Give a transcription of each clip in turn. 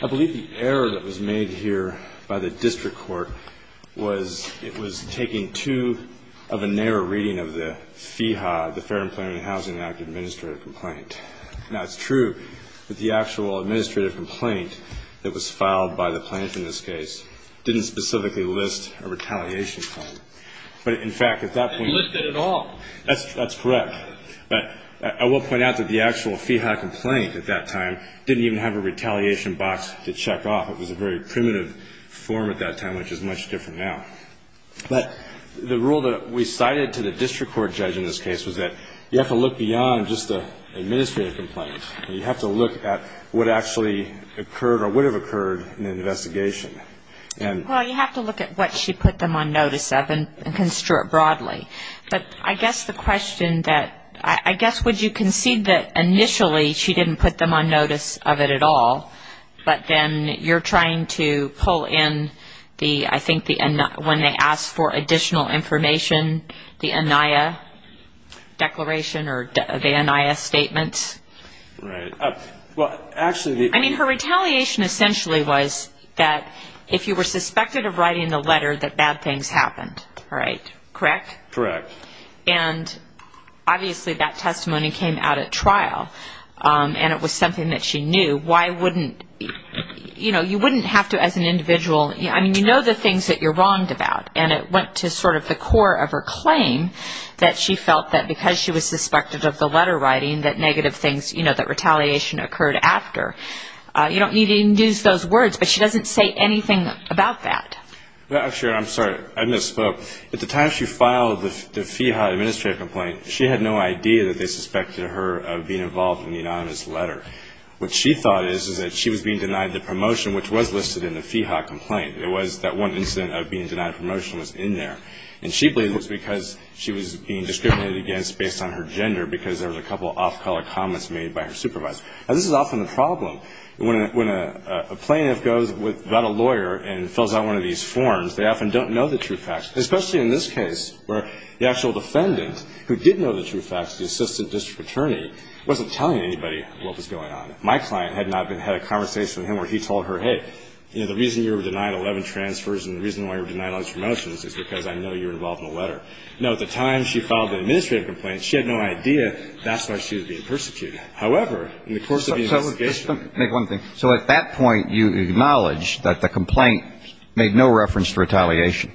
I believe the error that was made here by the district court was it was taking two of a narrow reading of the FHA, the Fair Employment and Housing Act, administrative complaint. Now, it's true that the actual administrative complaint that was filed by the plaintiff in this case didn't specifically list a retaliation claim. But, in fact, at that point You didn't list it at all. That's correct. But I will point out that the actual FHA complaint at that time didn't even have a retaliation box to check off. It was a very primitive form at that time, which is much different now. But the rule that we cited to the district court judge in this case was that you have to look beyond just the administrative complaint. You have to look at what actually occurred or would have occurred in the investigation. Well, you have to look at what she put them on notice of and construe it broadly. But I guess the question that I guess would you concede that initially she didn't put them on notice of it at all, but then you're trying to pull in the, I think, when they asked for the NIS statement. Right. Well, actually, the I mean, her retaliation essentially was that if you were suspected of writing the letter that bad things happened, right? Correct? Correct. And, obviously, that testimony came out at trial. And it was something that she knew. Why wouldn't, you know, you wouldn't have to as an individual, I mean, you know the things that you're wronged about. And it went to sort of the core of her claim that she was suspected of the letter writing that negative things, you know, that retaliation occurred after. You don't need to even use those words. But she doesn't say anything about that. Well, actually, I'm sorry. I misspoke. At the time she filed the FIHA administrative complaint, she had no idea that they suspected her of being involved in the anonymous letter. What she thought is that she was being denied the promotion, which was listed in the FIHA complaint. It was that one incident of being denied promotion was in there. And she believed it was because she was being discriminated against based on her gender because there was a couple of off-color comments made by her supervisor. Now, this is often the problem. When a plaintiff goes without a lawyer and fills out one of these forms, they often don't know the truth facts, especially in this case where the actual defendant who did know the truth facts, the assistant district attorney, wasn't telling anybody what was going on. My client had not been had a conversation with him where he told her, hey, you know, the reason you were denied 11 transfers and the reason why you were denied all these promotions is because I know you're involved in a letter. Now, at the time she filed the administrative complaint, she had no idea that's why she was being persecuted. However, in the course of the investigation — So let me make one thing. So at that point, you acknowledge that the complaint made no reference to retaliation?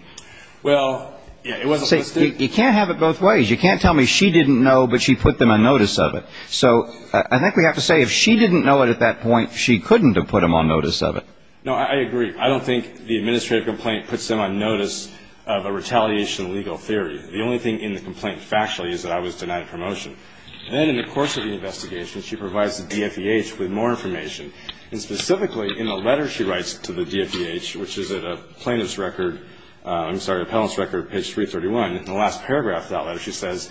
Well, yeah. It wasn't supposed to. You can't have it both ways. You can't tell me she didn't know, but she put them on notice of it. So I think we have to say if she didn't know it at that point, she couldn't have put them on notice of it. No, I agree. I don't think the administrative complaint puts them on notice of a retaliation legal theory. The only thing in the complaint factually is that I was denied a promotion. And then in the course of the investigation, she provides the DFVH with more information. And specifically in the letter she writes to the DFVH, which is at a plaintiff's record — I'm sorry, an appellant's record, page 331. In the last paragraph of that letter, she says,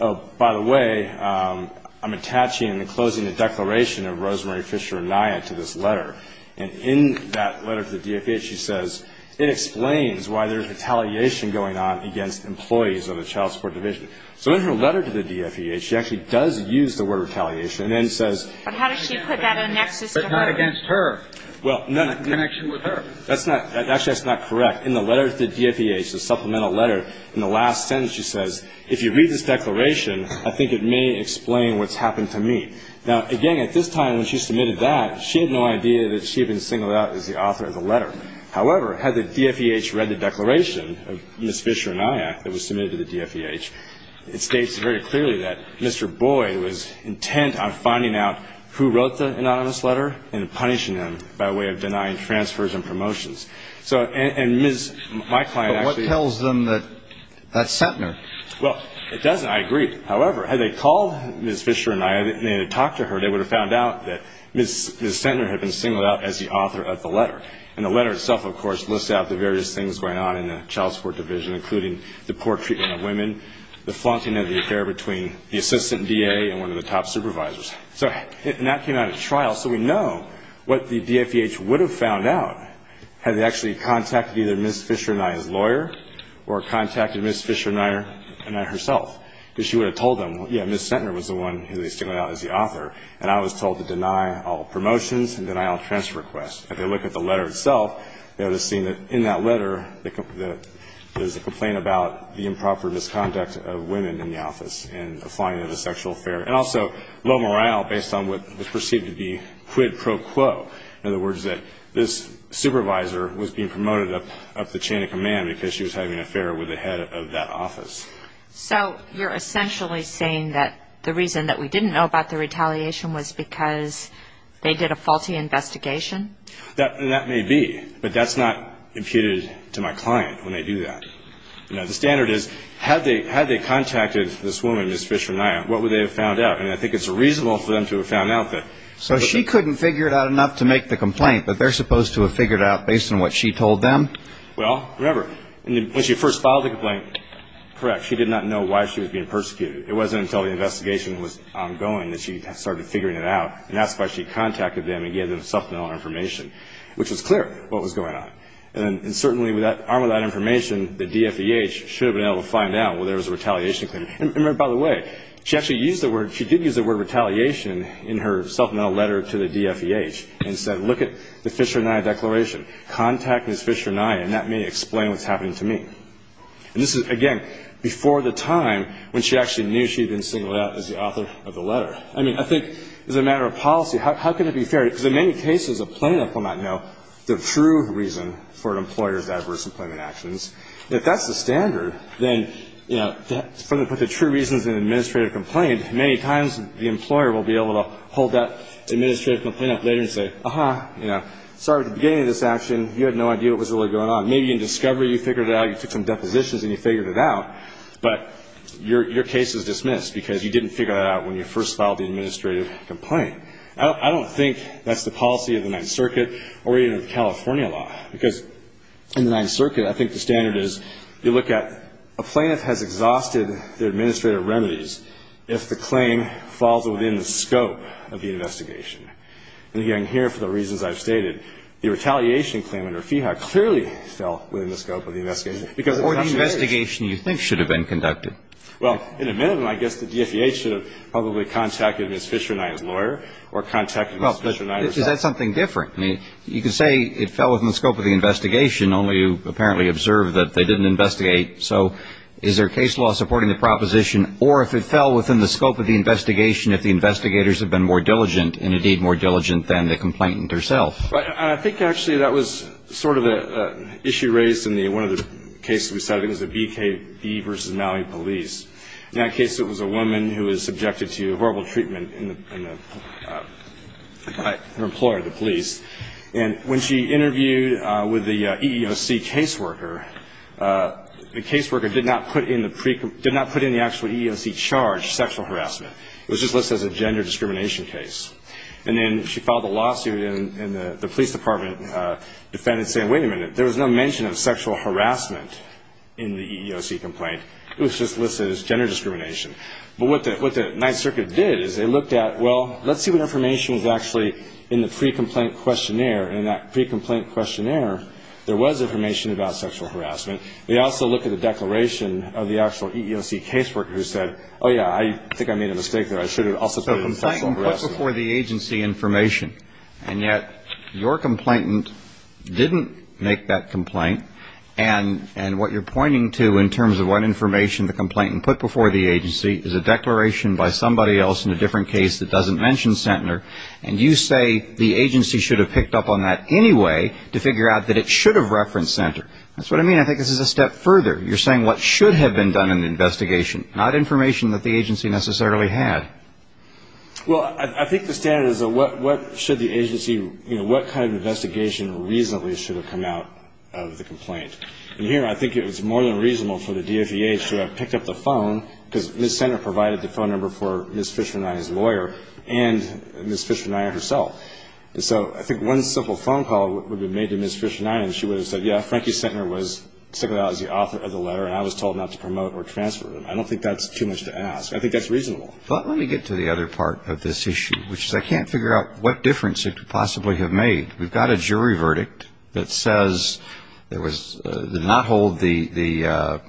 oh, by the way, I'm attaching and enclosing a declaration of Rosemary Fisher Naya to this letter. And in that letter to the DFVH, she says it explains why there's retaliation going on against employees of the child support division. So in her letter to the DFVH, she actually does use the word retaliation and then says — But how does she put that in a nexus to her? But not against her. Well, no. In connection with her. Actually, that's not correct. In the letter to the DFVH, the supplemental letter, in the last sentence, she says, if you read this declaration, I think it may explain what's idea that she had been singled out as the author of the letter. However, had the DFVH read the declaration of Ms. Fisher Naya that was submitted to the DFVH, it states very clearly that Mr. Boyd was intent on finding out who wrote the anonymous letter and punishing him by way of denying transfers and promotions. So — and Ms. — my client actually — But what tells them that that's Centner? Well, it doesn't. I agree. However, had they called Ms. Fisher Naya and they had talked to her, they would have found out that Ms. Centner had been singled out as the author of the letter. And the letter itself, of course, lists out the various things going on in the child support division, including the poor treatment of women, the flaunting of the affair between the assistant DA and one of the top supervisors. So — and that came out at trial. So we know what the DFVH would have found out had they actually contacted either Ms. Fisher Naya's lawyer or contacted Ms. Fisher Naya — Naya herself. Because she would have told them, yeah, Ms. Centner was the one who they singled out as the author. And I was told to deny all promotions and deny all transfer requests. If they look at the letter itself, they would have seen that in that letter there's a complaint about the improper misconduct of women in the office and the flaunting of the sexual affair. And also low morale based on what was perceived to be quid pro quo. In other words, that this supervisor was being promoted up the chain of command because she was having an affair with the head of that office. So you're essentially saying that the reason that we didn't know about the retaliation was because they did a faulty investigation? That may be, but that's not imputed to my client when they do that. You know, the standard is, had they contacted this woman, Ms. Fisher Naya, what would they have found out? And I think it's reasonable for them to have found out that — So she couldn't figure it out enough to make the complaint, but they're supposed to have figured it out based on what she told them? Well, remember, when she first filed the complaint, correct, she did not know why she was being persecuted. It wasn't until the investigation was ongoing that she started figuring it out, and that's why she contacted them and gave them self-denial information, which was clear what was going on. And certainly, armed with that information, the DFEH should have been able to find out, well, there was a retaliation claim. And by the way, she actually used the word — she did use the word retaliation in her self-denial letter to the DFEH and said, look at the Fisher Naya declaration. Contact Ms. Fisher Naya, and that may explain what's happening to me. And this is, again, before the time when she actually knew she had been singled out as the author of the letter. I mean, I think as a matter of policy, how can it be fair? Because in many cases, a plaintiff will not know the true reason for an employer's adverse employment actions. If that's the standard, then, you know, for the true reasons in an administrative complaint, many times the employer will be able to hold that administrative complaint up later and say, uh-huh, you know, sorry, at the beginning of this action, you had no idea what was really going on. Maybe in discovery you figured it out, you took some depositions and you figured it out, but your case is dismissed because you didn't figure that out when you first filed the administrative complaint. I don't think that's the policy of the Ninth Circuit or even of California law. Because in the Ninth Circuit, I think the standard is you look at a plaintiff has exhausted their administrative remedies if the claim falls within the scope of the investigation. The retaliation claim under FIHA clearly fell within the scope of the investigation. Or the investigation you think should have been conducted. Well, in a minute, I guess the DFEA should have probably contacted Ms. Fischer-Knight as lawyer or contacted Ms. Fischer-Knight herself. Is that something different? I mean, you could say it fell within the scope of the investigation, only you apparently observed that they didn't investigate. So is their case law supporting the proposition or if it fell within the scope of the investigation if the investigators have been more diligent and indeed more diligent than the complainant herself? I think actually that was sort of an issue raised in one of the cases we cited. It was a BKB versus Maui police. In that case, it was a woman who was subjected to horrible treatment by her employer, the police. And when she interviewed with the EEOC caseworker, the caseworker did not put in the actual EEOC charge, sexual harassment. It was just listed as a gender discrimination case. And then she filed a lawsuit and the police department defended saying, wait a minute, there was no mention of sexual harassment in the EEOC complaint. It was just listed as gender discrimination. But what the Ninth Circuit did is they looked at, well, let's see what information was actually in the pre-complaint questionnaire. And in that pre-complaint questionnaire, there was information about sexual harassment. They also looked at the declaration of the actual EEOC caseworker who said, oh, yeah, I think I made a mistake there. I should have also put in sexual harassment. So the complainant put before the agency information, and yet your complainant didn't make that complaint. And what you're pointing to in terms of what information the complainant put before the agency is a declaration by somebody else in a different case that doesn't mention Centner. And you say the agency should have picked up on that anyway to figure out that it should have referenced Centner. That's what I mean. I think this is a step further. You're saying what should have been done in the investigation, not information that the agency necessarily had. Well, I think the standard is what should the agency, you know, what kind of investigation reasonably should have come out of the complaint. And here I think it was more than reasonable for the DOPH to have picked up the phone because Ms. Centner provided the phone number for Ms. Fisher-Nyhan's lawyer and Ms. Fisher-Nyhan herself. So I think one simple phone call would have been made to Ms. Fisher-Nyhan, and she would have said, yeah, Frankie Centner was signaled out as the author of the letter, and I was told not to promote or transfer it. I don't think that's too much to ask. I think that's reasonable. But let me get to the other part of this issue, which is I can't figure out what difference it could possibly have made. We've got a jury verdict that says there was, did not hold the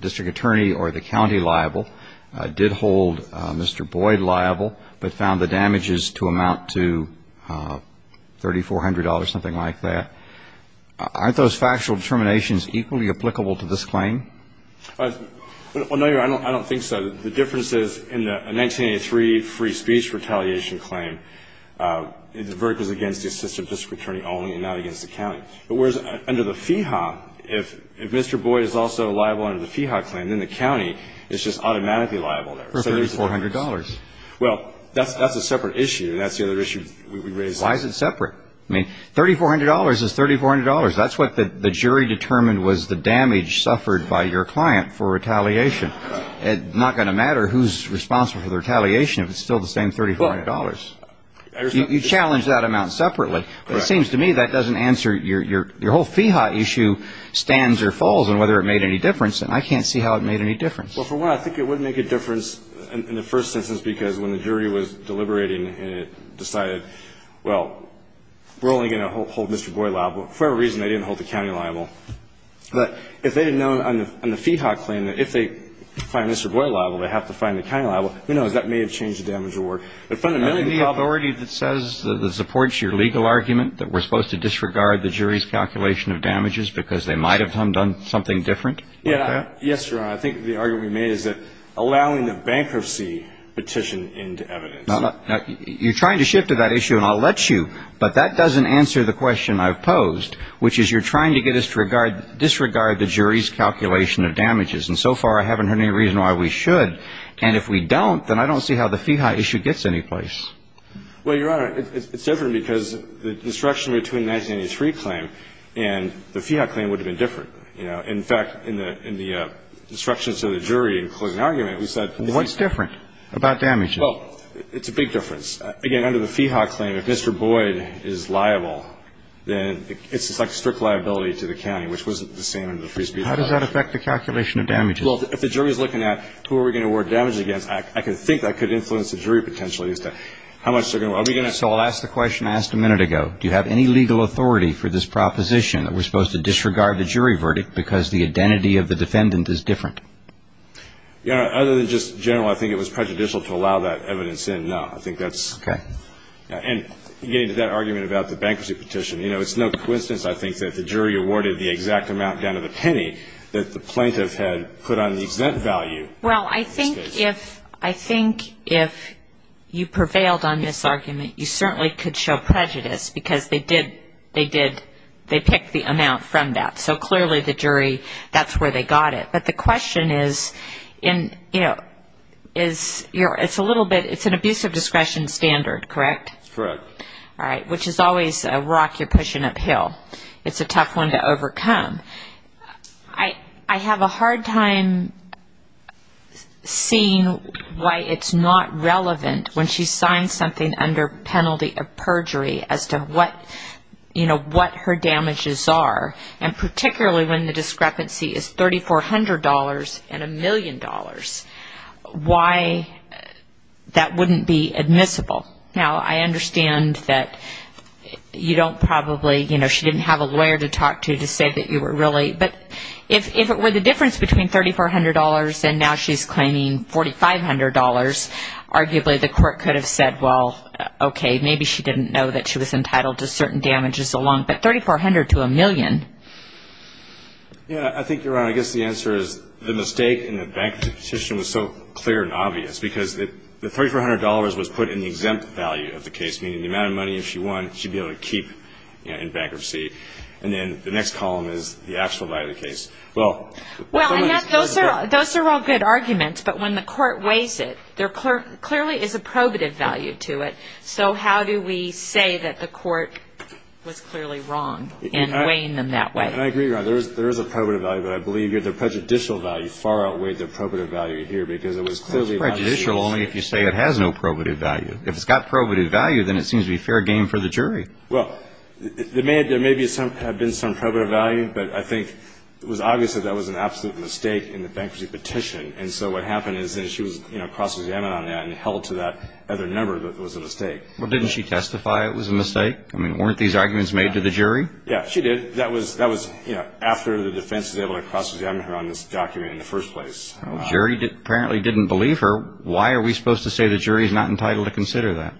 district attorney or the county liable, did hold Mr. Boyd liable, but found the damages to amount to $3,400, something like that. Aren't those factual determinations equally applicable to this claim? Well, no, Your Honor, I don't think so. The difference is in the 1983 free speech retaliation claim, the verdict was against the assistant district attorney only and not against the county. But whereas under the FEHA, if Mr. Boyd is also liable under the FEHA claim, then the county is just automatically liable there. For $3,400. Well, that's a separate issue, and that's the other issue we raised. Why is it separate? $3,400 is $3,400. That's what the jury determined was the damage suffered by your client for retaliation. It's not going to matter who's responsible for the retaliation if it's still the same $3,400. You challenged that amount separately. It seems to me that doesn't answer your whole FEHA issue stands or falls on whether it made any difference, and I can't see how it made any difference. Well, for one, I think it would make a difference in the first instance because when the jury was deliberating, it decided, well, we're only going to hold Mr. Boyd liable. For whatever reason, they didn't hold the county liable. But if they had known on the FEHA claim that if they find Mr. Boyd liable, they have to find the county liable, who knows, that may have changed the damage award. But fundamentally The authority that says that supports your legal argument that we're supposed to disregard the jury's calculation of damages because they might have done something different? Yes, Your Honor. I think the argument we made is that allowing the bankruptcy petition into evidence. You're trying to shift to that issue, and I'll let you, but that doesn't answer the question I've posed, which is you're trying to get us to disregard the jury's calculation of damages. And so far, I haven't heard any reason why we should. And if we don't, then I don't see how the FEHA issue gets anyplace. Well, Your Honor, it's different because the destruction between the 1993 claim and the FEHA claim would have been different. In fact, in the instructions to the jury in closing argument, we said... What's different about damages? Well, it's a big difference. Again, under the FEHA claim, if Mr. Boyd is liable, then it's like strict liability to the county, which wasn't the same under the free speech act. How does that affect the calculation of damages? Well, if the jury's looking at who are we going to award damages against, I can think that could influence the jury potentially as to how much they're going to... So I'll ask the question I asked a minute ago. Do you have any legal authority for this proposition that we're supposed to disregard the jury verdict because the identity of the defendant is different? Your Honor, other than just general, I think it was prejudicial to allow that evidence in, no. I think that's... Okay. And getting to that argument about the bankruptcy petition, it's no coincidence, I think, that the jury awarded the exact amount down to the penny that the plaintiff had put on the exempt value. Well, I think if you prevailed on this argument, you certainly could show prejudice because they picked the amount from that. So clearly the jury, that's where they got it. But the question is, it's an abuse of discretion standard, correct? Correct. All right. Which is always a rock you're pushing uphill. It's a tough one to overcome. I have a hard time seeing why it's not relevant when she signs something under penalty of perjury as to what her damages are, and particularly when the discrepancy is $3,400 and a million dollars, why that wouldn't be admissible. Now, I understand that you don't probably... She didn't have a lawyer to talk to to say that you were really... But if it were the difference between $3,400 and now the court could have said, well, okay, maybe she didn't know that she was entitled to certain damages along, but $3,400 to a million. Yeah, I think you're right. I guess the answer is the mistake in the bankruptcy petition was so clear and obvious because the $3,400 was put in the exempt value of the case, meaning the amount of money, if she won, she'd be able to keep in bankruptcy. And then the next column is the actual value of the case. Well, those are all good arguments, but when the court weighs it, clearly is a probative value to it. So how do we say that the court was clearly wrong in weighing them that way? And I agree, there is a probative value, but I believe the prejudicial value far outweighed the probative value here because it was clearly... It's prejudicial only if you say it has no probative value. If it's got probative value, then it seems to be fair game for the jury. Well, there may have been some probative value, but I think it was obvious that that was an absolute mistake in the bankruptcy petition. And so what happened is that she was cross-examined on that and held to that other number that was a mistake. Well, didn't she testify it was a mistake? I mean, weren't these arguments made to the jury? Yeah, she did. That was after the defense was able to cross-examine her on this document in the first place. Jury apparently didn't believe her. Why are we supposed to say the jury is not entitled to consider that?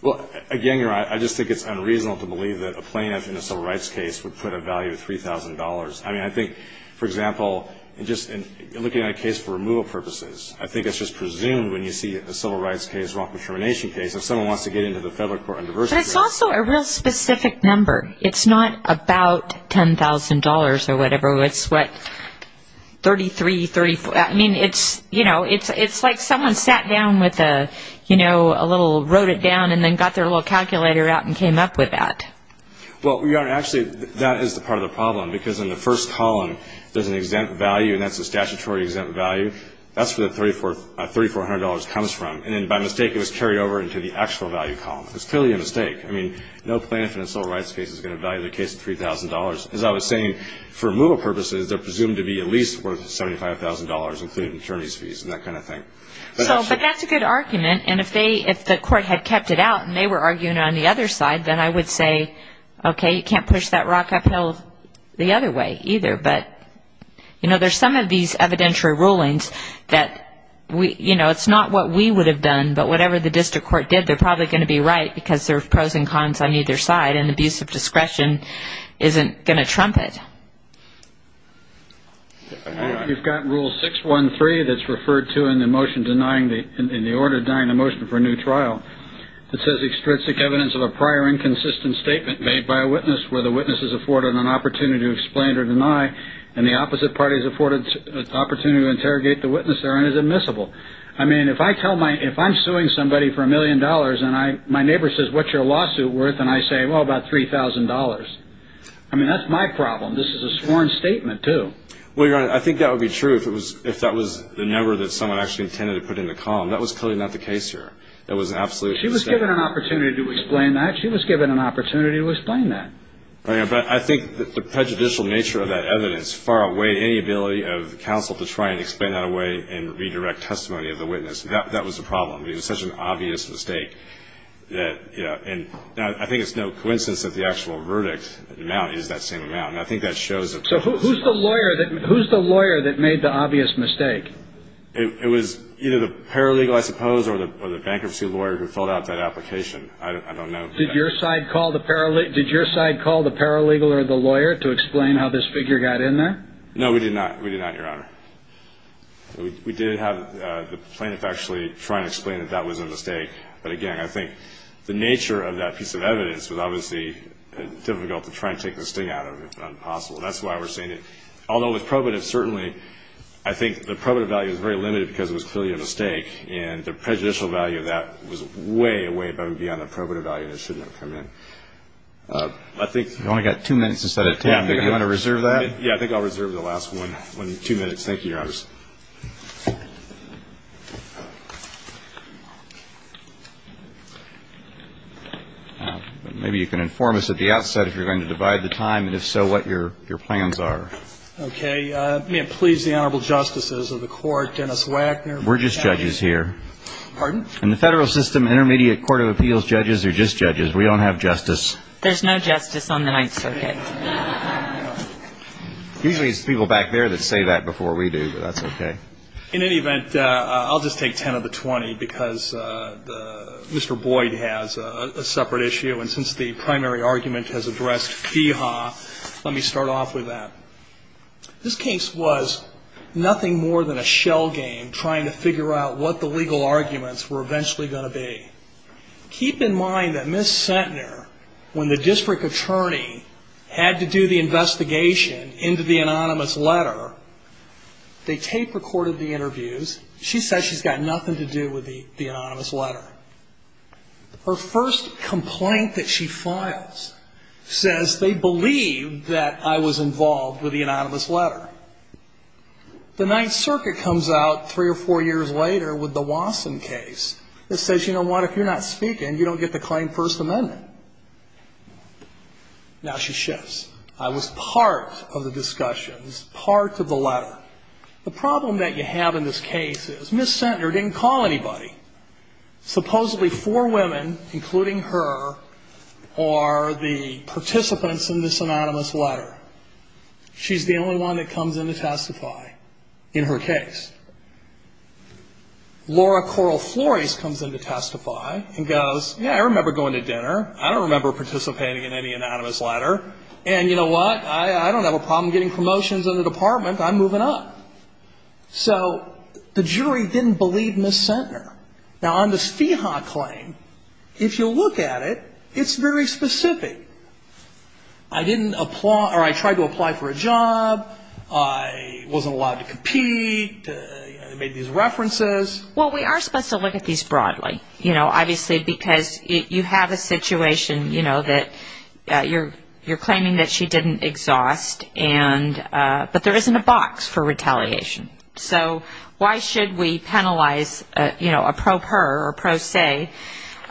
Well, again, I just think it's unreasonable to believe that a plaintiff in a civil rights case would put a value of $3,000. I mean, I think, for example, just looking at a case for removal purposes, I think it's just presumed when you see a civil rights case, a wrongful termination case, if someone wants to get into the federal court on diversity... But it's also a real specific number. It's not about $10,000 or whatever. It's what, $33,000, $34,000. I mean, it's like someone sat down with a little... wrote it down and then got their little calculator out and came up with that. Well, Your Honor, actually, that is part of the problem. Because in the first column, there's an exempt value, and that's a statutory exempt value. That's where the $3,400 comes from. And then, by mistake, it was carried over into the actual value column. It was clearly a mistake. I mean, no plaintiff in a civil rights case is going to value the case at $3,000. As I was saying, for removal purposes, they're presumed to be at least worth $75,000, including attorney's fees and that kind of thing. But that's a good argument. And if the court had kept it out and they were arguing on the other side, then I would say, okay, you can't push that rock uphill the other way either. But, you know, there's some of these evidentiary rulings that, you know, it's not what we would have done. But whatever the district court did, they're probably going to be right because there are pros and cons on either side. And abuse of discretion isn't going to trump it. You've got Rule 613 that's referred to in the order denying a motion for a new trial. It says extrinsic evidence of a prior inconsistent statement made by a witness where the witness is afforded an opportunity to explain or deny and the opposite party is afforded an opportunity to interrogate the witness there and is admissible. I mean, if I'm suing somebody for a million dollars and my neighbor says, what's your lawsuit worth? And I say, well, about $3,000. I mean, that's my problem. This is a sworn statement too. Well, Your Honor, I think that would be true if that was the number that someone actually intended to put in the column. That was clearly not the case here. That was an absolute mistake. She was given an opportunity to explain that. She was given an opportunity to explain that. But I think that the prejudicial nature of that evidence far outweighed any ability of the counsel to try and explain that away and redirect testimony of the witness. That was the problem. It was such an obvious mistake. And I think it's no coincidence that the actual verdict amount is that same amount. And I think that shows that. So who's the lawyer that made the obvious mistake? It was either the paralegal, I suppose, or the bankruptcy lawyer who filled out that application. I don't know. Did your side call the paralegal or the lawyer to explain how this figure got in there? No, we did not. We did not, Your Honor. We did have the plaintiff actually try and explain that that was a mistake. But again, I think the nature of that piece of evidence was obviously difficult to try and take the sting out of. It's impossible. That's why we're seeing it. Although with probative, certainly, I think the probative value is very limited because it was clearly a mistake. And the prejudicial value of that was way, way above and beyond the probative value. And it shouldn't have come in. I think... You only got two minutes instead of 10. Do you want to reserve that? Yeah, I think I'll reserve the last one, two minutes. Thank you, Your Honors. Maybe you can inform us at the outset if you're going to divide the time. And if so, what your plans are. Okay. May it please the Honorable Justices of the Court, Dennis Wagner. We're just judges here. Pardon? In the federal system, intermediate court of appeals, judges are just judges. We don't have justice. There's no justice on the Ninth Circuit. Usually, it's people back there that say that before we do. But that's okay. In any event, I'll just take 10 of the 20 because Mr. Boyd has a separate issue. And since the primary argument has addressed fee haw, let me start off with that. This case was nothing more than a shell game, trying to figure out what the legal arguments were eventually going to be. Keep in mind that Ms. Centner, when the district attorney had to do the investigation into the anonymous letter, they tape recorded the interviews. She says she's got nothing to do with the anonymous letter. Her first complaint that she files says, they believe that I was involved with the anonymous letter. The Ninth Circuit comes out three or four years later with the Wasson case. It says, you know what? If you're not speaking, you don't get to claim First Amendment. Now she shifts. I was part of the discussions, part of the letter. The problem that you have in this case is Ms. Centner didn't call anybody. Supposedly four women, including her, are the participants in this anonymous letter. She's the only one that comes in to testify in her case. Laura Coral Flores comes in to testify and goes, yeah, I remember going to dinner. I don't remember participating in any anonymous letter. And you know what? I don't have a problem getting promotions in the department. I'm moving up. So the jury didn't believe Ms. Centner. Now on this FIHA claim, if you look at it, it's very specific. I didn't apply, or I tried to apply for a job. I wasn't allowed to compete. I made these references. Well, we are supposed to look at these broadly, you know, obviously, because you have a situation, you know, that you're claiming that she didn't exhaust. And, but there isn't a box for retaliation. So why should we penalize, you know, a pro per or pro se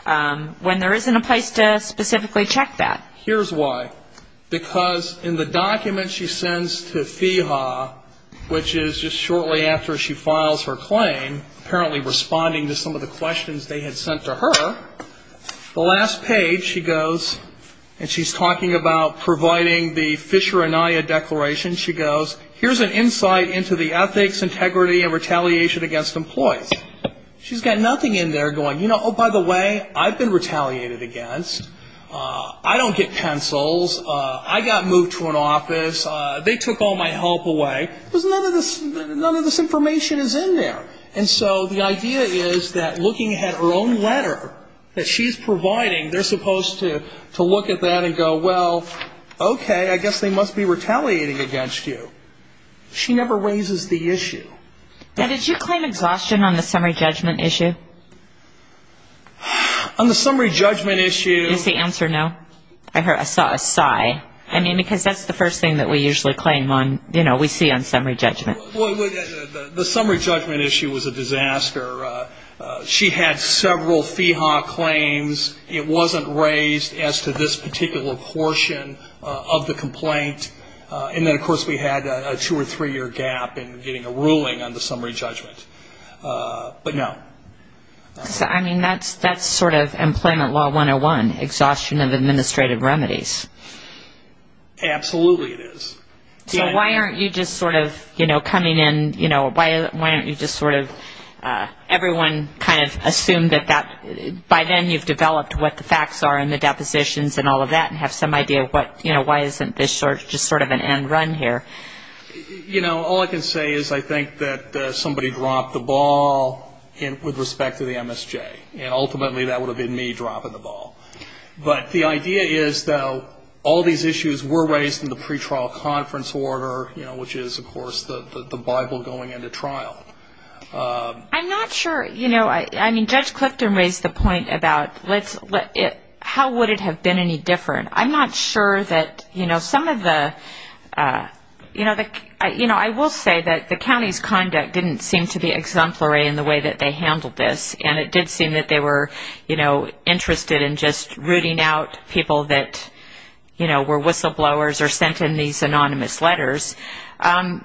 when there isn't a place to specifically check that? Here's why. Because in the document she sends to FIHA, which is just shortly after she files her claim, apparently responding to some of the questions they had sent to her, the last page she goes, and she's talking about providing the Fisher-Anaya declaration. She goes, here's an insight into the ethics, integrity, and retaliation against employees. She's got nothing in there going, you know, oh, by the way, I've been retaliated against. I don't get pencils. I got moved to an office. They took all my help away. There's none of this, none of this information is in there. And so the idea is that looking at her own letter that she's providing, they're supposed to look at that and go, well, okay, I guess they must be retaliating against you. She never raises the issue. Now, did you claim exhaustion on the summary judgment issue? On the summary judgment issue... Is the answer no? I heard a sigh. I mean, because that's the first thing that we usually claim on, you know, we see on summary judgment. The summary judgment issue was a disaster. She had several FIHA claims. It wasn't raised as to this particular portion of the complaint. And then, of course, we had a two or three-year gap in getting a ruling on the summary judgment. But no. I mean, that's sort of Employment Law 101, exhaustion of administrative remedies. Absolutely it is. So why aren't you just sort of, you know, coming in, you know, why don't you just sort of, everyone kind of assume that that, by then you've developed what the facts are and the depositions and all of that and have some idea of what, you know, why isn't this just sort of an end run here? You know, all I can say is I think that somebody dropped the ball with respect to the MSJ. And ultimately, that would have been me dropping the ball. But the idea is, though, all these issues were raised in the pretrial conference order, which is, of course, the Bible going into trial. I'm not sure, you know, I mean, Judge Clifton raised the point about how would it have been any different? I'm not sure that, you know, some of the, you know, I will say that the county's conduct didn't seem to be exemplary in the way that they handled this. And it did seem that they were, you know, interested in just rooting out people that, you know, were whistleblowers or sent in these anonymous letters. Um,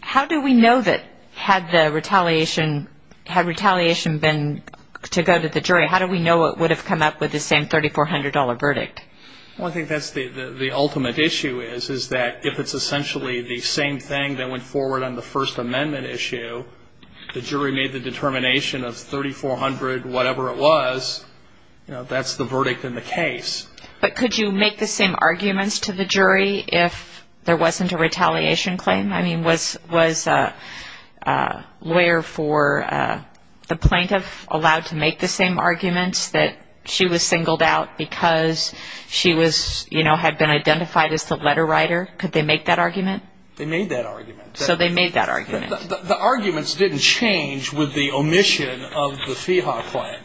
how do we know that had the retaliation, had retaliation been to go to the jury, how do we know it would have come up with the same $3,400 verdict? Well, I think that's the ultimate issue is, is that if it's essentially the same thing that went forward on the First Amendment issue, the jury made the determination of $3,400, whatever it was, you know, that's the verdict in the case. But could you make the same arguments to the jury if there wasn't a retaliation claim? I mean, was a lawyer for the plaintiff allowed to make the same arguments that she was singled out because she was, you know, had been identified as the letter writer? Could they make that argument? They made that argument. So they made that argument. The arguments didn't change with the omission of the FEHA claim.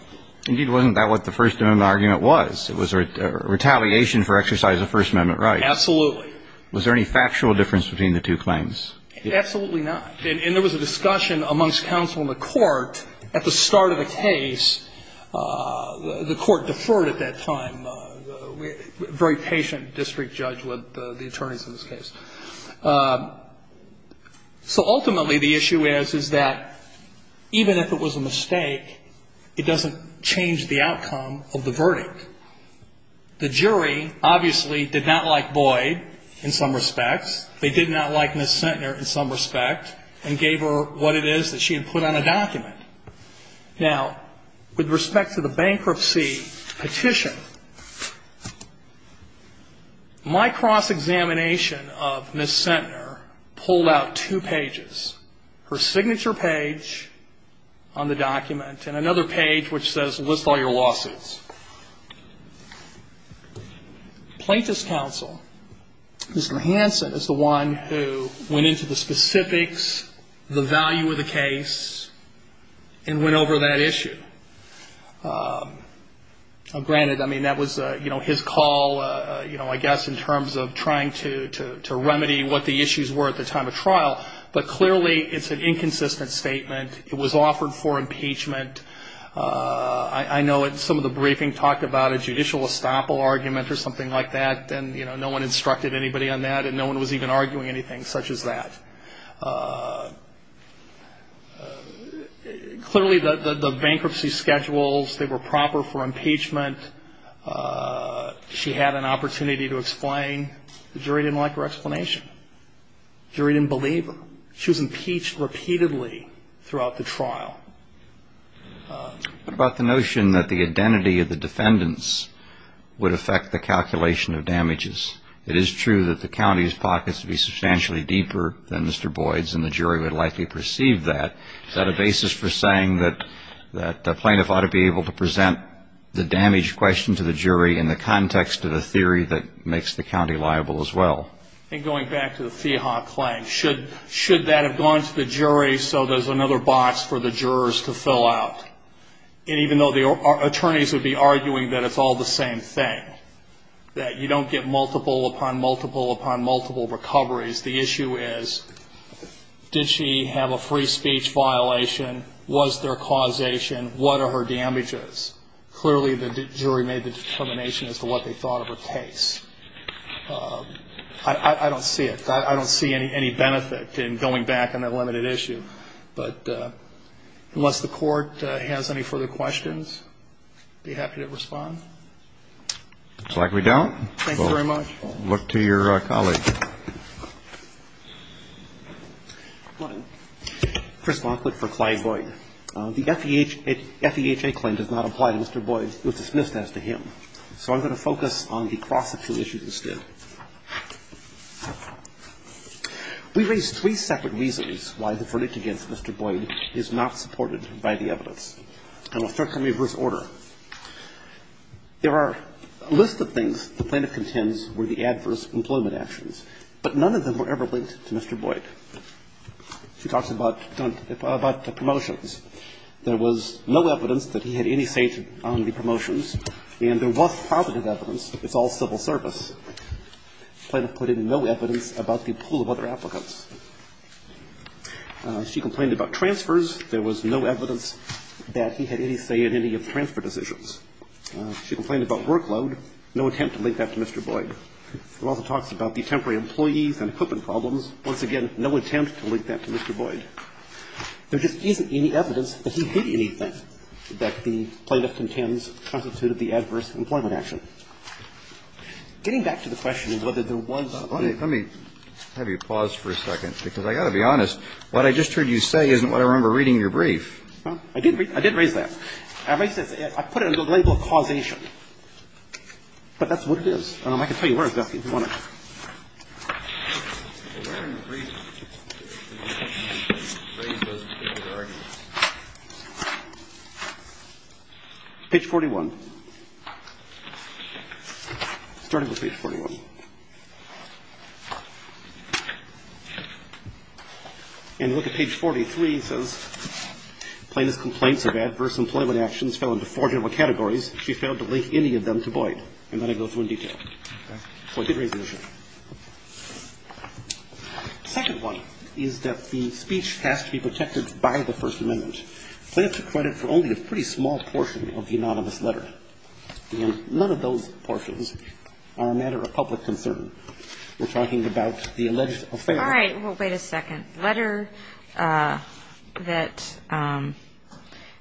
Indeed, wasn't that what the First Amendment argument was? It was a retaliation for exercise of First Amendment rights. Absolutely. Was there any factual difference between the two claims? Absolutely not. And there was a discussion amongst counsel in the court at the start of the case. The court deferred at that time. A very patient district judge with the attorneys in this case. So ultimately, the issue is, is that even if it was a mistake, it doesn't change the outcome of the verdict. The jury, obviously, did not like Boyd in some respects. They did not like Ms. Centner in some respect, and gave her what it is that she had put on a document. Now, with respect to the bankruptcy petition, my cross-examination of Ms. Centner pulled out two pages. Her signature page on the document, and another page which says, list all your lawsuits. The plaintiff's counsel, Mr. Hansen, is the one who went into the specifics, the value of the case, and went over that issue. Granted, that was his call, I guess, in terms of trying to remedy what the issues were at the time of trial, but clearly, it's an inconsistent statement. It was offered for impeachment. I know that some of the briefing talked about a judicial estoppel argument or something like that, and no one instructed anybody on that, and no one was even arguing anything such as that. Clearly, the bankruptcy schedules, they were proper for impeachment. She had an opportunity to explain. The jury didn't like her explanation. The jury didn't believe her. She was impeached repeatedly throughout the trial. What about the notion that the identity of the defendants would affect the calculation of damages? It is true that the county's pockets would be substantially deeper than Mr. Boyd's, and the jury would likely perceive that. Is that a basis for saying that the plaintiff ought to be able to present the damage question to the jury in the context of a theory that makes the county liable as well? Going back to the fee hawk claim, should that have gone to the jury so there's another box for the jurors to fill out, and even though the attorneys would be arguing that it's all the same thing, that you don't get multiple upon multiple upon multiple recoveries, the issue is, did she have a free speech violation? Was there causation? What are her damages? Clearly, the jury made the determination as to what they thought of her case. I don't see it. I don't see any benefit in going back on that limited issue. But unless the Court has any further questions, I'd be happy to respond. Looks like we don't. Thank you very much. We'll look to your colleague. Good morning. Chris Monkwood for Clyde Boyd. The FEHA claim does not apply to Mr. Boyd. It was dismissed as to him. So I'm going to focus on the cross-examination issue instead. We raise three separate reasons why the verdict against Mr. Boyd is not supported by the evidence. I'm going to start from reverse order. There are a list of things the plaintiff contends were the adverse employment actions, but none of them were ever linked to Mr. Boyd. She talks about, about the promotions. There was no evidence that he had any say on the promotions, and there was positive evidence. It's all civil service. Plaintiff put in no evidence about the pool of other applicants. She complained about transfers. There was no evidence that he had any say in any of the transfer decisions. She complained about workload. No attempt to link that to Mr. Boyd. It also talks about the temporary employees and equipment problems. Once again, no attempt to link that to Mr. Boyd. There just isn't any evidence that he did anything that the plaintiff contends constituted the adverse employment action. Getting back to the question of whether there was any of that. Let me have you pause for a second, because I've got to be honest. What I just heard you say isn't what I remember reading in your brief. Well, I did read, I did raise that. I put it under the label of causation, but that's what it is. I can tell you where it's at if you want to. Page 41. Starting with page 41. And look at page 43, it says, plaintiff's complaints of adverse employment actions fell into four general categories. She failed to link any of them to Boyd. And then I go through in detail. So I did raise the issue. Second one is that the speech has to be protected by the First Amendment. Plaintiff took credit for only a pretty small portion of the anonymous letter. And none of those portions are a matter of public concern. We're talking about the alleged affair. All right, well, wait a second. Letter that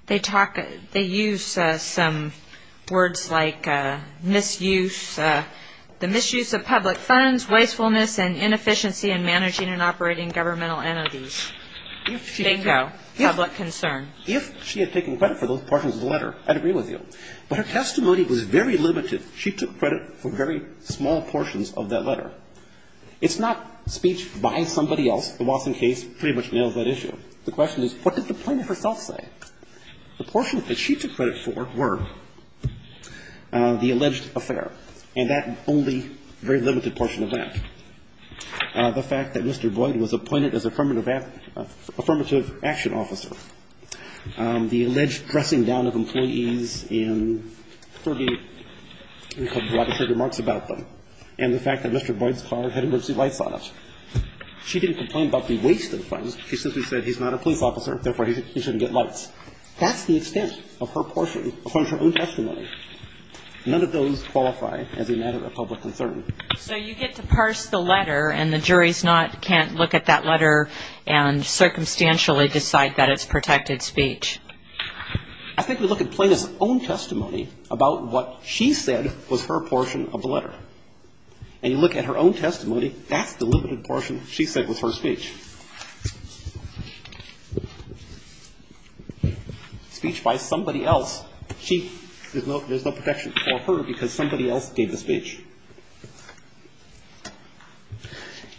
they talk, they use some words like misuse, the misuse of public funds, wastefulness and inefficiency in managing and operating governmental entities. If she had taken credit for those portions of the letter, I'd agree with you. But her testimony was very limited. She took credit for very small portions of that letter. It's not speech by somebody else. The Watson case pretty much nails that issue. The question is, what did the plaintiff herself say? The portion that she took credit for were the alleged affair and that only very limited portion of that. The fact that Mr. Boyd was appointed as affirmative action officer. The alleged dressing down of employees in Kirby. We have a lot of remarks about them. And the fact that Mr. Boyd's car had emergency lights on it. She didn't complain about the waste of funds. She simply said he's not a police officer. Therefore, he shouldn't get lights. That's the extent of her portion of her own testimony. None of those qualify as a matter of public concern. So you get to parse the letter and the jury's not, can't look at that letter and circumstantially decide that it's protected speech. I think we look at plaintiff's own testimony about what she said was her portion of the letter. And you look at her own testimony, that's the limited portion she said was her speech. Speech by somebody else. She, there's no protection for her because somebody else gave the speech.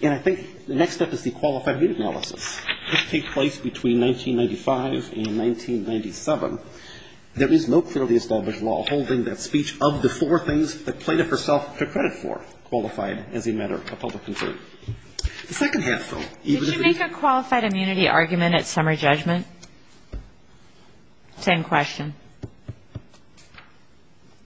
And I think the next step is the qualified immunity analysis. This takes place between 1995 and 1997. There is no clearly established law holding that speech of the four things the plaintiff herself took credit for, qualified as a matter of public concern. The second half, though. Did you make a qualified immunity argument at summary judgment? Same question.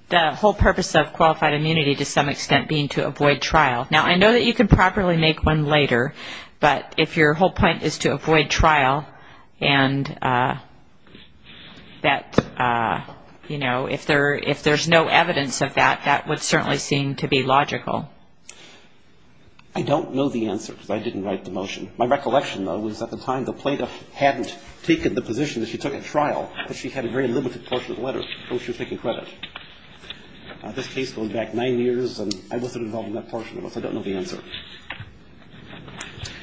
The whole purpose of qualified immunity to some extent being to avoid trial. Now, I know that you can properly make one later, but if your whole point is to avoid trial and that, you know, if there's no evidence of that, that would certainly seem to be logical. I don't know the answer because I didn't write the motion. My recollection, though, was at the time the plaintiff hadn't taken the position that she took at trial, that she had a very limited portion of the letter from which she was taking credit. This case goes back nine years, and I wasn't involved in that portion of it, so I don't know the answer.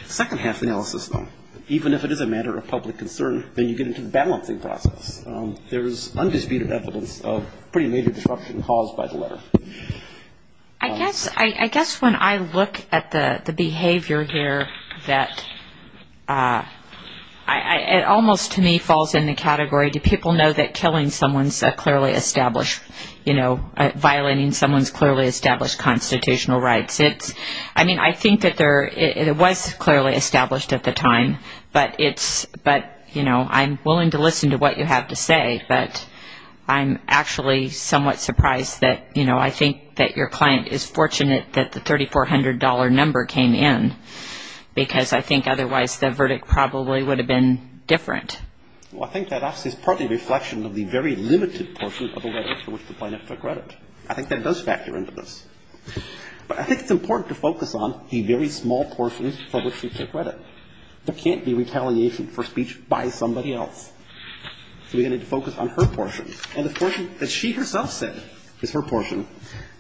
Second half analysis, though. Even if it is a matter of public concern, then you get into the balancing process. There is undisputed evidence of pretty major disruption caused by the letter. I guess when I look at the behavior here, it almost to me falls in the category, do people know that killing someone is clearly established, you know, violating someone's clearly established constitutional rights. I mean, I think that it was clearly established at the time, but, you know, I'm willing to listen to what you have to say. But I'm actually somewhat surprised that, you know, I think that your client is fortunate that the $3,400 number came in, because I think otherwise the verdict probably would have been different. Well, I think that is partly a reflection of the very limited portion of the letter for which the plaintiff took credit. I think that does factor into this. But I think it's important to focus on the very small portions for which she took credit. There can't be retaliation for speech by somebody else. So we're going to need to focus on her portion. And the portion that she herself said is her portion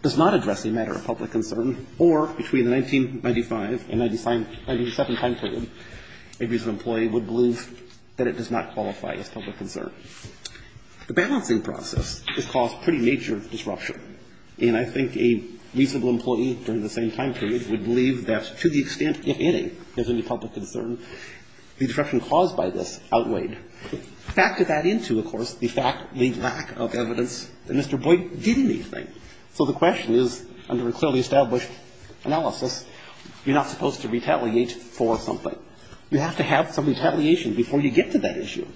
does not address a matter of public concern or between the 1995 and 1997 time period, a reasonable employee would believe that it does not qualify as public concern. The balancing process has caused pretty major disruption. And I think a reasonable employee during the same time period would believe that to the extent, if any, there's any public concern, the disruption caused by this outweighed by the fact that she did not have any evidence that Mr. Boyd did anything. So the question is, under a clearly established analysis, you're not supposed to retaliate for something. You have to have some retaliation before you get to that issue.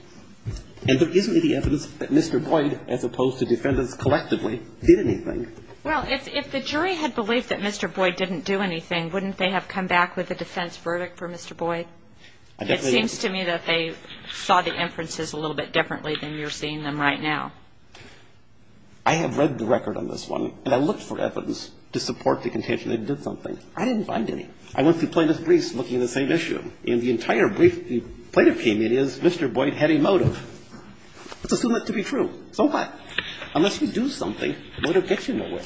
And there isn't any evidence that Mr. Boyd, as opposed to defendants collectively, did anything. Well, if the jury had believed that Mr. Boyd didn't do anything, wouldn't they have come back with a defense verdict for Mr. Boyd? It seems to me that they saw the inferences a little bit differently than you're seeing them right now. I have read the record on this one, and I looked for evidence to support the contention they did something. I didn't find any. I went through plaintiff's briefs looking at the same issue. And the entire brief the plaintiff came in is Mr. Boyd had a motive. Let's assume that to be true. So what? Unless you do something, the motive gets you nowhere.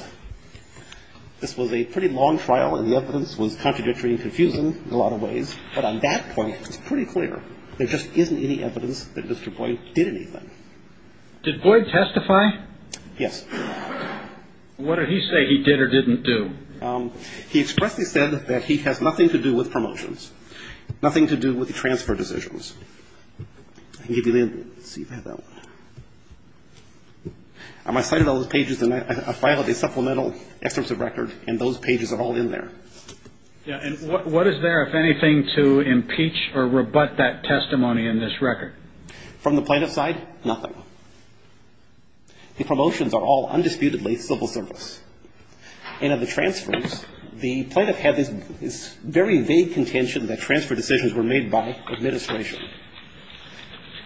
This was a pretty long trial, and the evidence was contradictory and confusing in a lot of ways. But on that point, it's pretty clear there just isn't any evidence that Mr. Boyd did anything. Did Boyd testify? Yes. What did he say he did or didn't do? He expressly said that he has nothing to do with promotions, nothing to do with the transfer decisions. I can give you the, let's see if I have that one. I cited all those pages, and I filed a supplemental excerpt of the record, and those pages are all in there. Yeah, and what is there, if anything, to impeach or rebut that testimony in this record? From the plaintiff's side, nothing. The promotions are all undisputedly civil service. And of the transfers, the plaintiff had this very vague contention that transfer decisions were made by administration.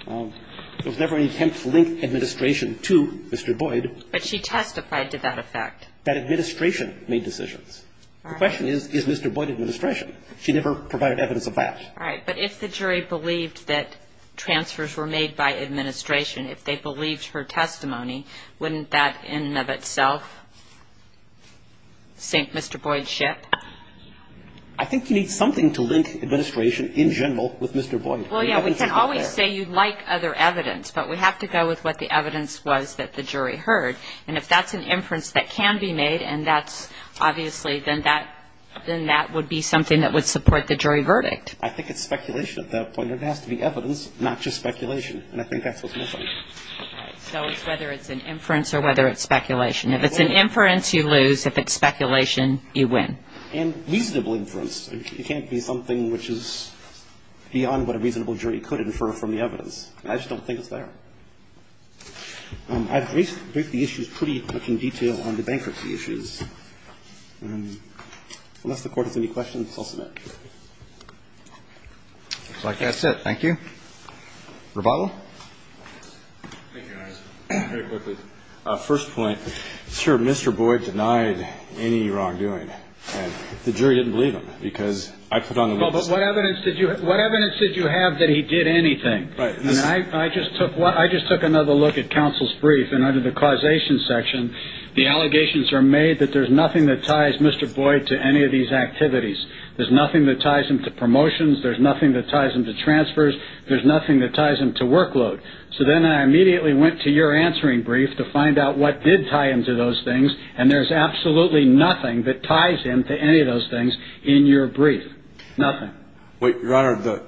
There was never any attempt to link administration to Mr. Boyd. But she testified to that effect. That administration made decisions. The question is, is Mr. Boyd administration? She never provided evidence of that. All right, but if the jury believed that transfers were made by administration, if they believed her testimony, wouldn't that in and of itself sink Mr. Boyd's ship? I think you need something to link administration in general with Mr. Boyd. Well, yeah, we can always say you'd like other evidence, but we have to go with what the evidence was that the jury heard. And if that's an inference that can be made, and that's obviously, then that would be something that would support the jury verdict. I think it's speculation at that point. It has to be evidence, not just speculation. And I think that's what's missing. So it's whether it's an inference or whether it's speculation. If it's an inference, you lose. If it's speculation, you win. And reasonable inference. It can't be something which is beyond what a reasonable jury could infer from the evidence. I just don't think it's there. I've briefed the issues pretty much in detail on the bankruptcy issues. Unless the Court has any questions, I'll submit. Looks like that's it. Thank you. Rebottle? Thank you, Your Honor. Very quickly. First point, sir, Mr. Boyd denied any wrongdoing. And the jury didn't believe him because I put on the witness. But what evidence did you have that he did anything? Right. I just took another look at counsel's brief. And under the causation section, the allegations are made that there's nothing that ties Mr. Boyd to any of these activities. There's nothing that ties him to promotions. There's nothing that ties him to transfers. There's nothing that ties him to workload. So then I immediately went to your answering brief to find out what did tie him to those things. And there's absolutely nothing that ties him to any of those things in your brief. Nothing. Your Honor,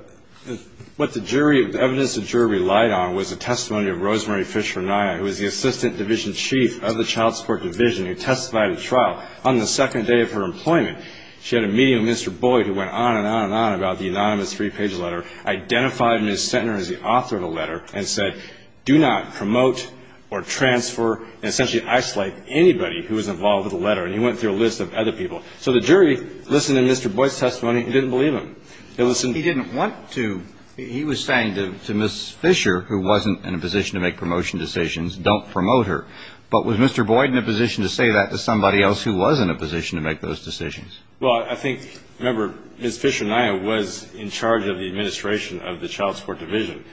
what the jury, the evidence the jury relied on was the testimony of Rosemary Fisher Nye, who is the Assistant Division Chief of the Child Support Division, who testified at trial. On the second day of her employment, she had a meeting with Mr. Boyd, who went on and on and on about the anonymous three-page letter, identified Ms. Centner as the author of the letter, and said, do not promote or transfer and essentially isolate anybody who was involved with the letter. And he went through a list of other people. So the jury listened to Mr. Boyd's testimony and didn't believe him. They listened. He didn't want to. He was saying to Ms. Fisher, who wasn't in a position to make promotion decisions, don't promote her. But was Mr. Boyd in a position to say that to somebody else who was in a position to make those decisions? Well, I think, remember, Ms. Fisher Nye was in charge of the administration of the Child Support Division.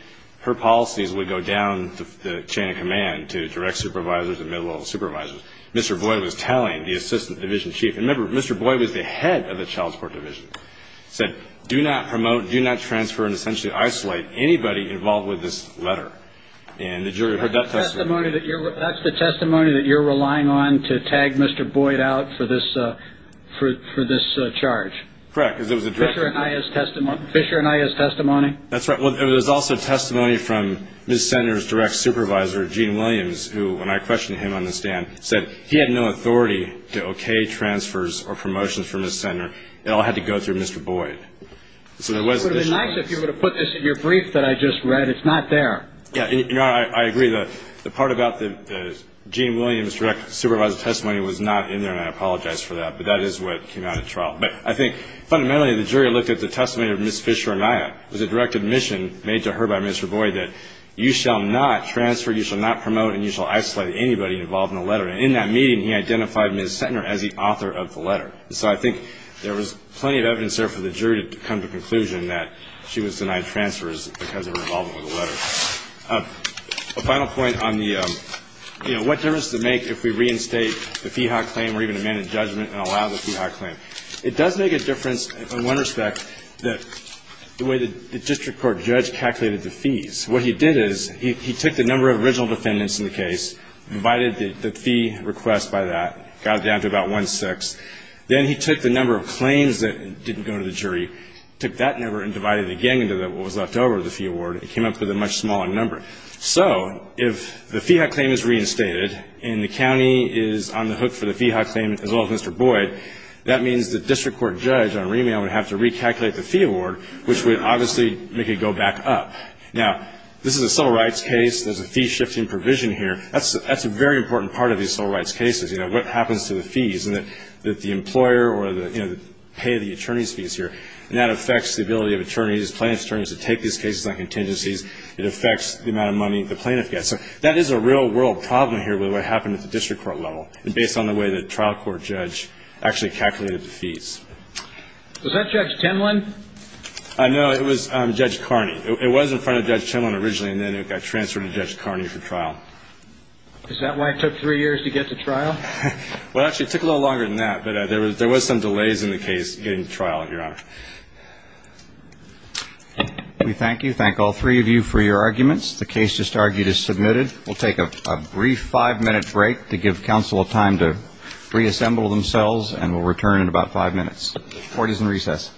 Her policies would go down the chain of command to direct supervisors and middle-level supervisors. Mr. Boyd was tallying the Assistant Division Chief. Remember, Mr. Boyd was the head of the Child Support Division. He said, do not promote, do not transfer and essentially isolate anybody involved with this letter. And the jury heard that testimony. That's the testimony that you're relying on to tag Mr. Boyd out for this charge? Correct. Because it was a direct testimony. Fisher Nye's testimony? That's right. Well, there was also testimony from Ms. Centner's direct supervisor, Gene Williams, who, when I questioned him on the stand, said he had no authority to okay transfers or promotions for Ms. Centner. It all had to go through Mr. Boyd. So there was this choice. It would have been nice if you were to put this in your brief that I just read. It's not there. Yeah, you know, I agree. The part about the Gene Williams direct supervisor testimony was not in there, and I apologize for that. But that is what came out of trial. But I think, fundamentally, the jury looked at the testimony of Ms. Fisher Nye. It was a direct admission made to her by Mr. Boyd that you shall not transfer, you shall not promote, and you shall isolate anybody involved in the letter. And in that meeting, he identified Ms. Centner as the author of the letter. So I think there was plenty of evidence there for the jury to come to the conclusion that she was denied transfers because of her involvement with the letter. A final point on the, you know, what difference does it make if we reinstate the Feehock claim or even amend the judgment and allow the Feehock claim? It does make a difference, in one respect, the way the district court judge calculated the fees. What he did is he took the number of original defendants in the case, divided the fee request by that, got it down to about one-sixth. Then he took the number of claims that didn't go to the jury, took that number and divided it again into what was left over of the fee award. It came up with a much smaller number. So if the Feehock claim is reinstated and the county is on the hook for the Feehock claim as well as Mr. Boyd, that means the district court judge on remand would have to recalculate the fee award, which would obviously make it go back up. Now, this is a civil rights case. There's a fee-shifting provision here. That's a very important part of these civil rights cases, you know, what happens to the fees and that the employer or the, you know, the pay of the attorney's fees here. And that affects the ability of attorneys, plaintiff's attorneys, to take these cases on contingencies. It affects the amount of money the plaintiff gets. So that is a real-world problem here with what happened at the district court level based on the way the trial court judge actually calculated the fees. Was that Judge Timlin? I know. It was Judge Carney. It was in front of Judge Timlin originally and then it got transferred to Judge Carney for trial. Is that why it took three years to get to trial? Well, actually, it took a little longer than that, but there was some delays in the case getting to trial, Your Honor. We thank you. Thank all three of you for your arguments. The case just argued is submitted. We'll take a brief five-minute break to give counsel a time to reassemble themselves and we'll return in about five minutes. Court is in recess.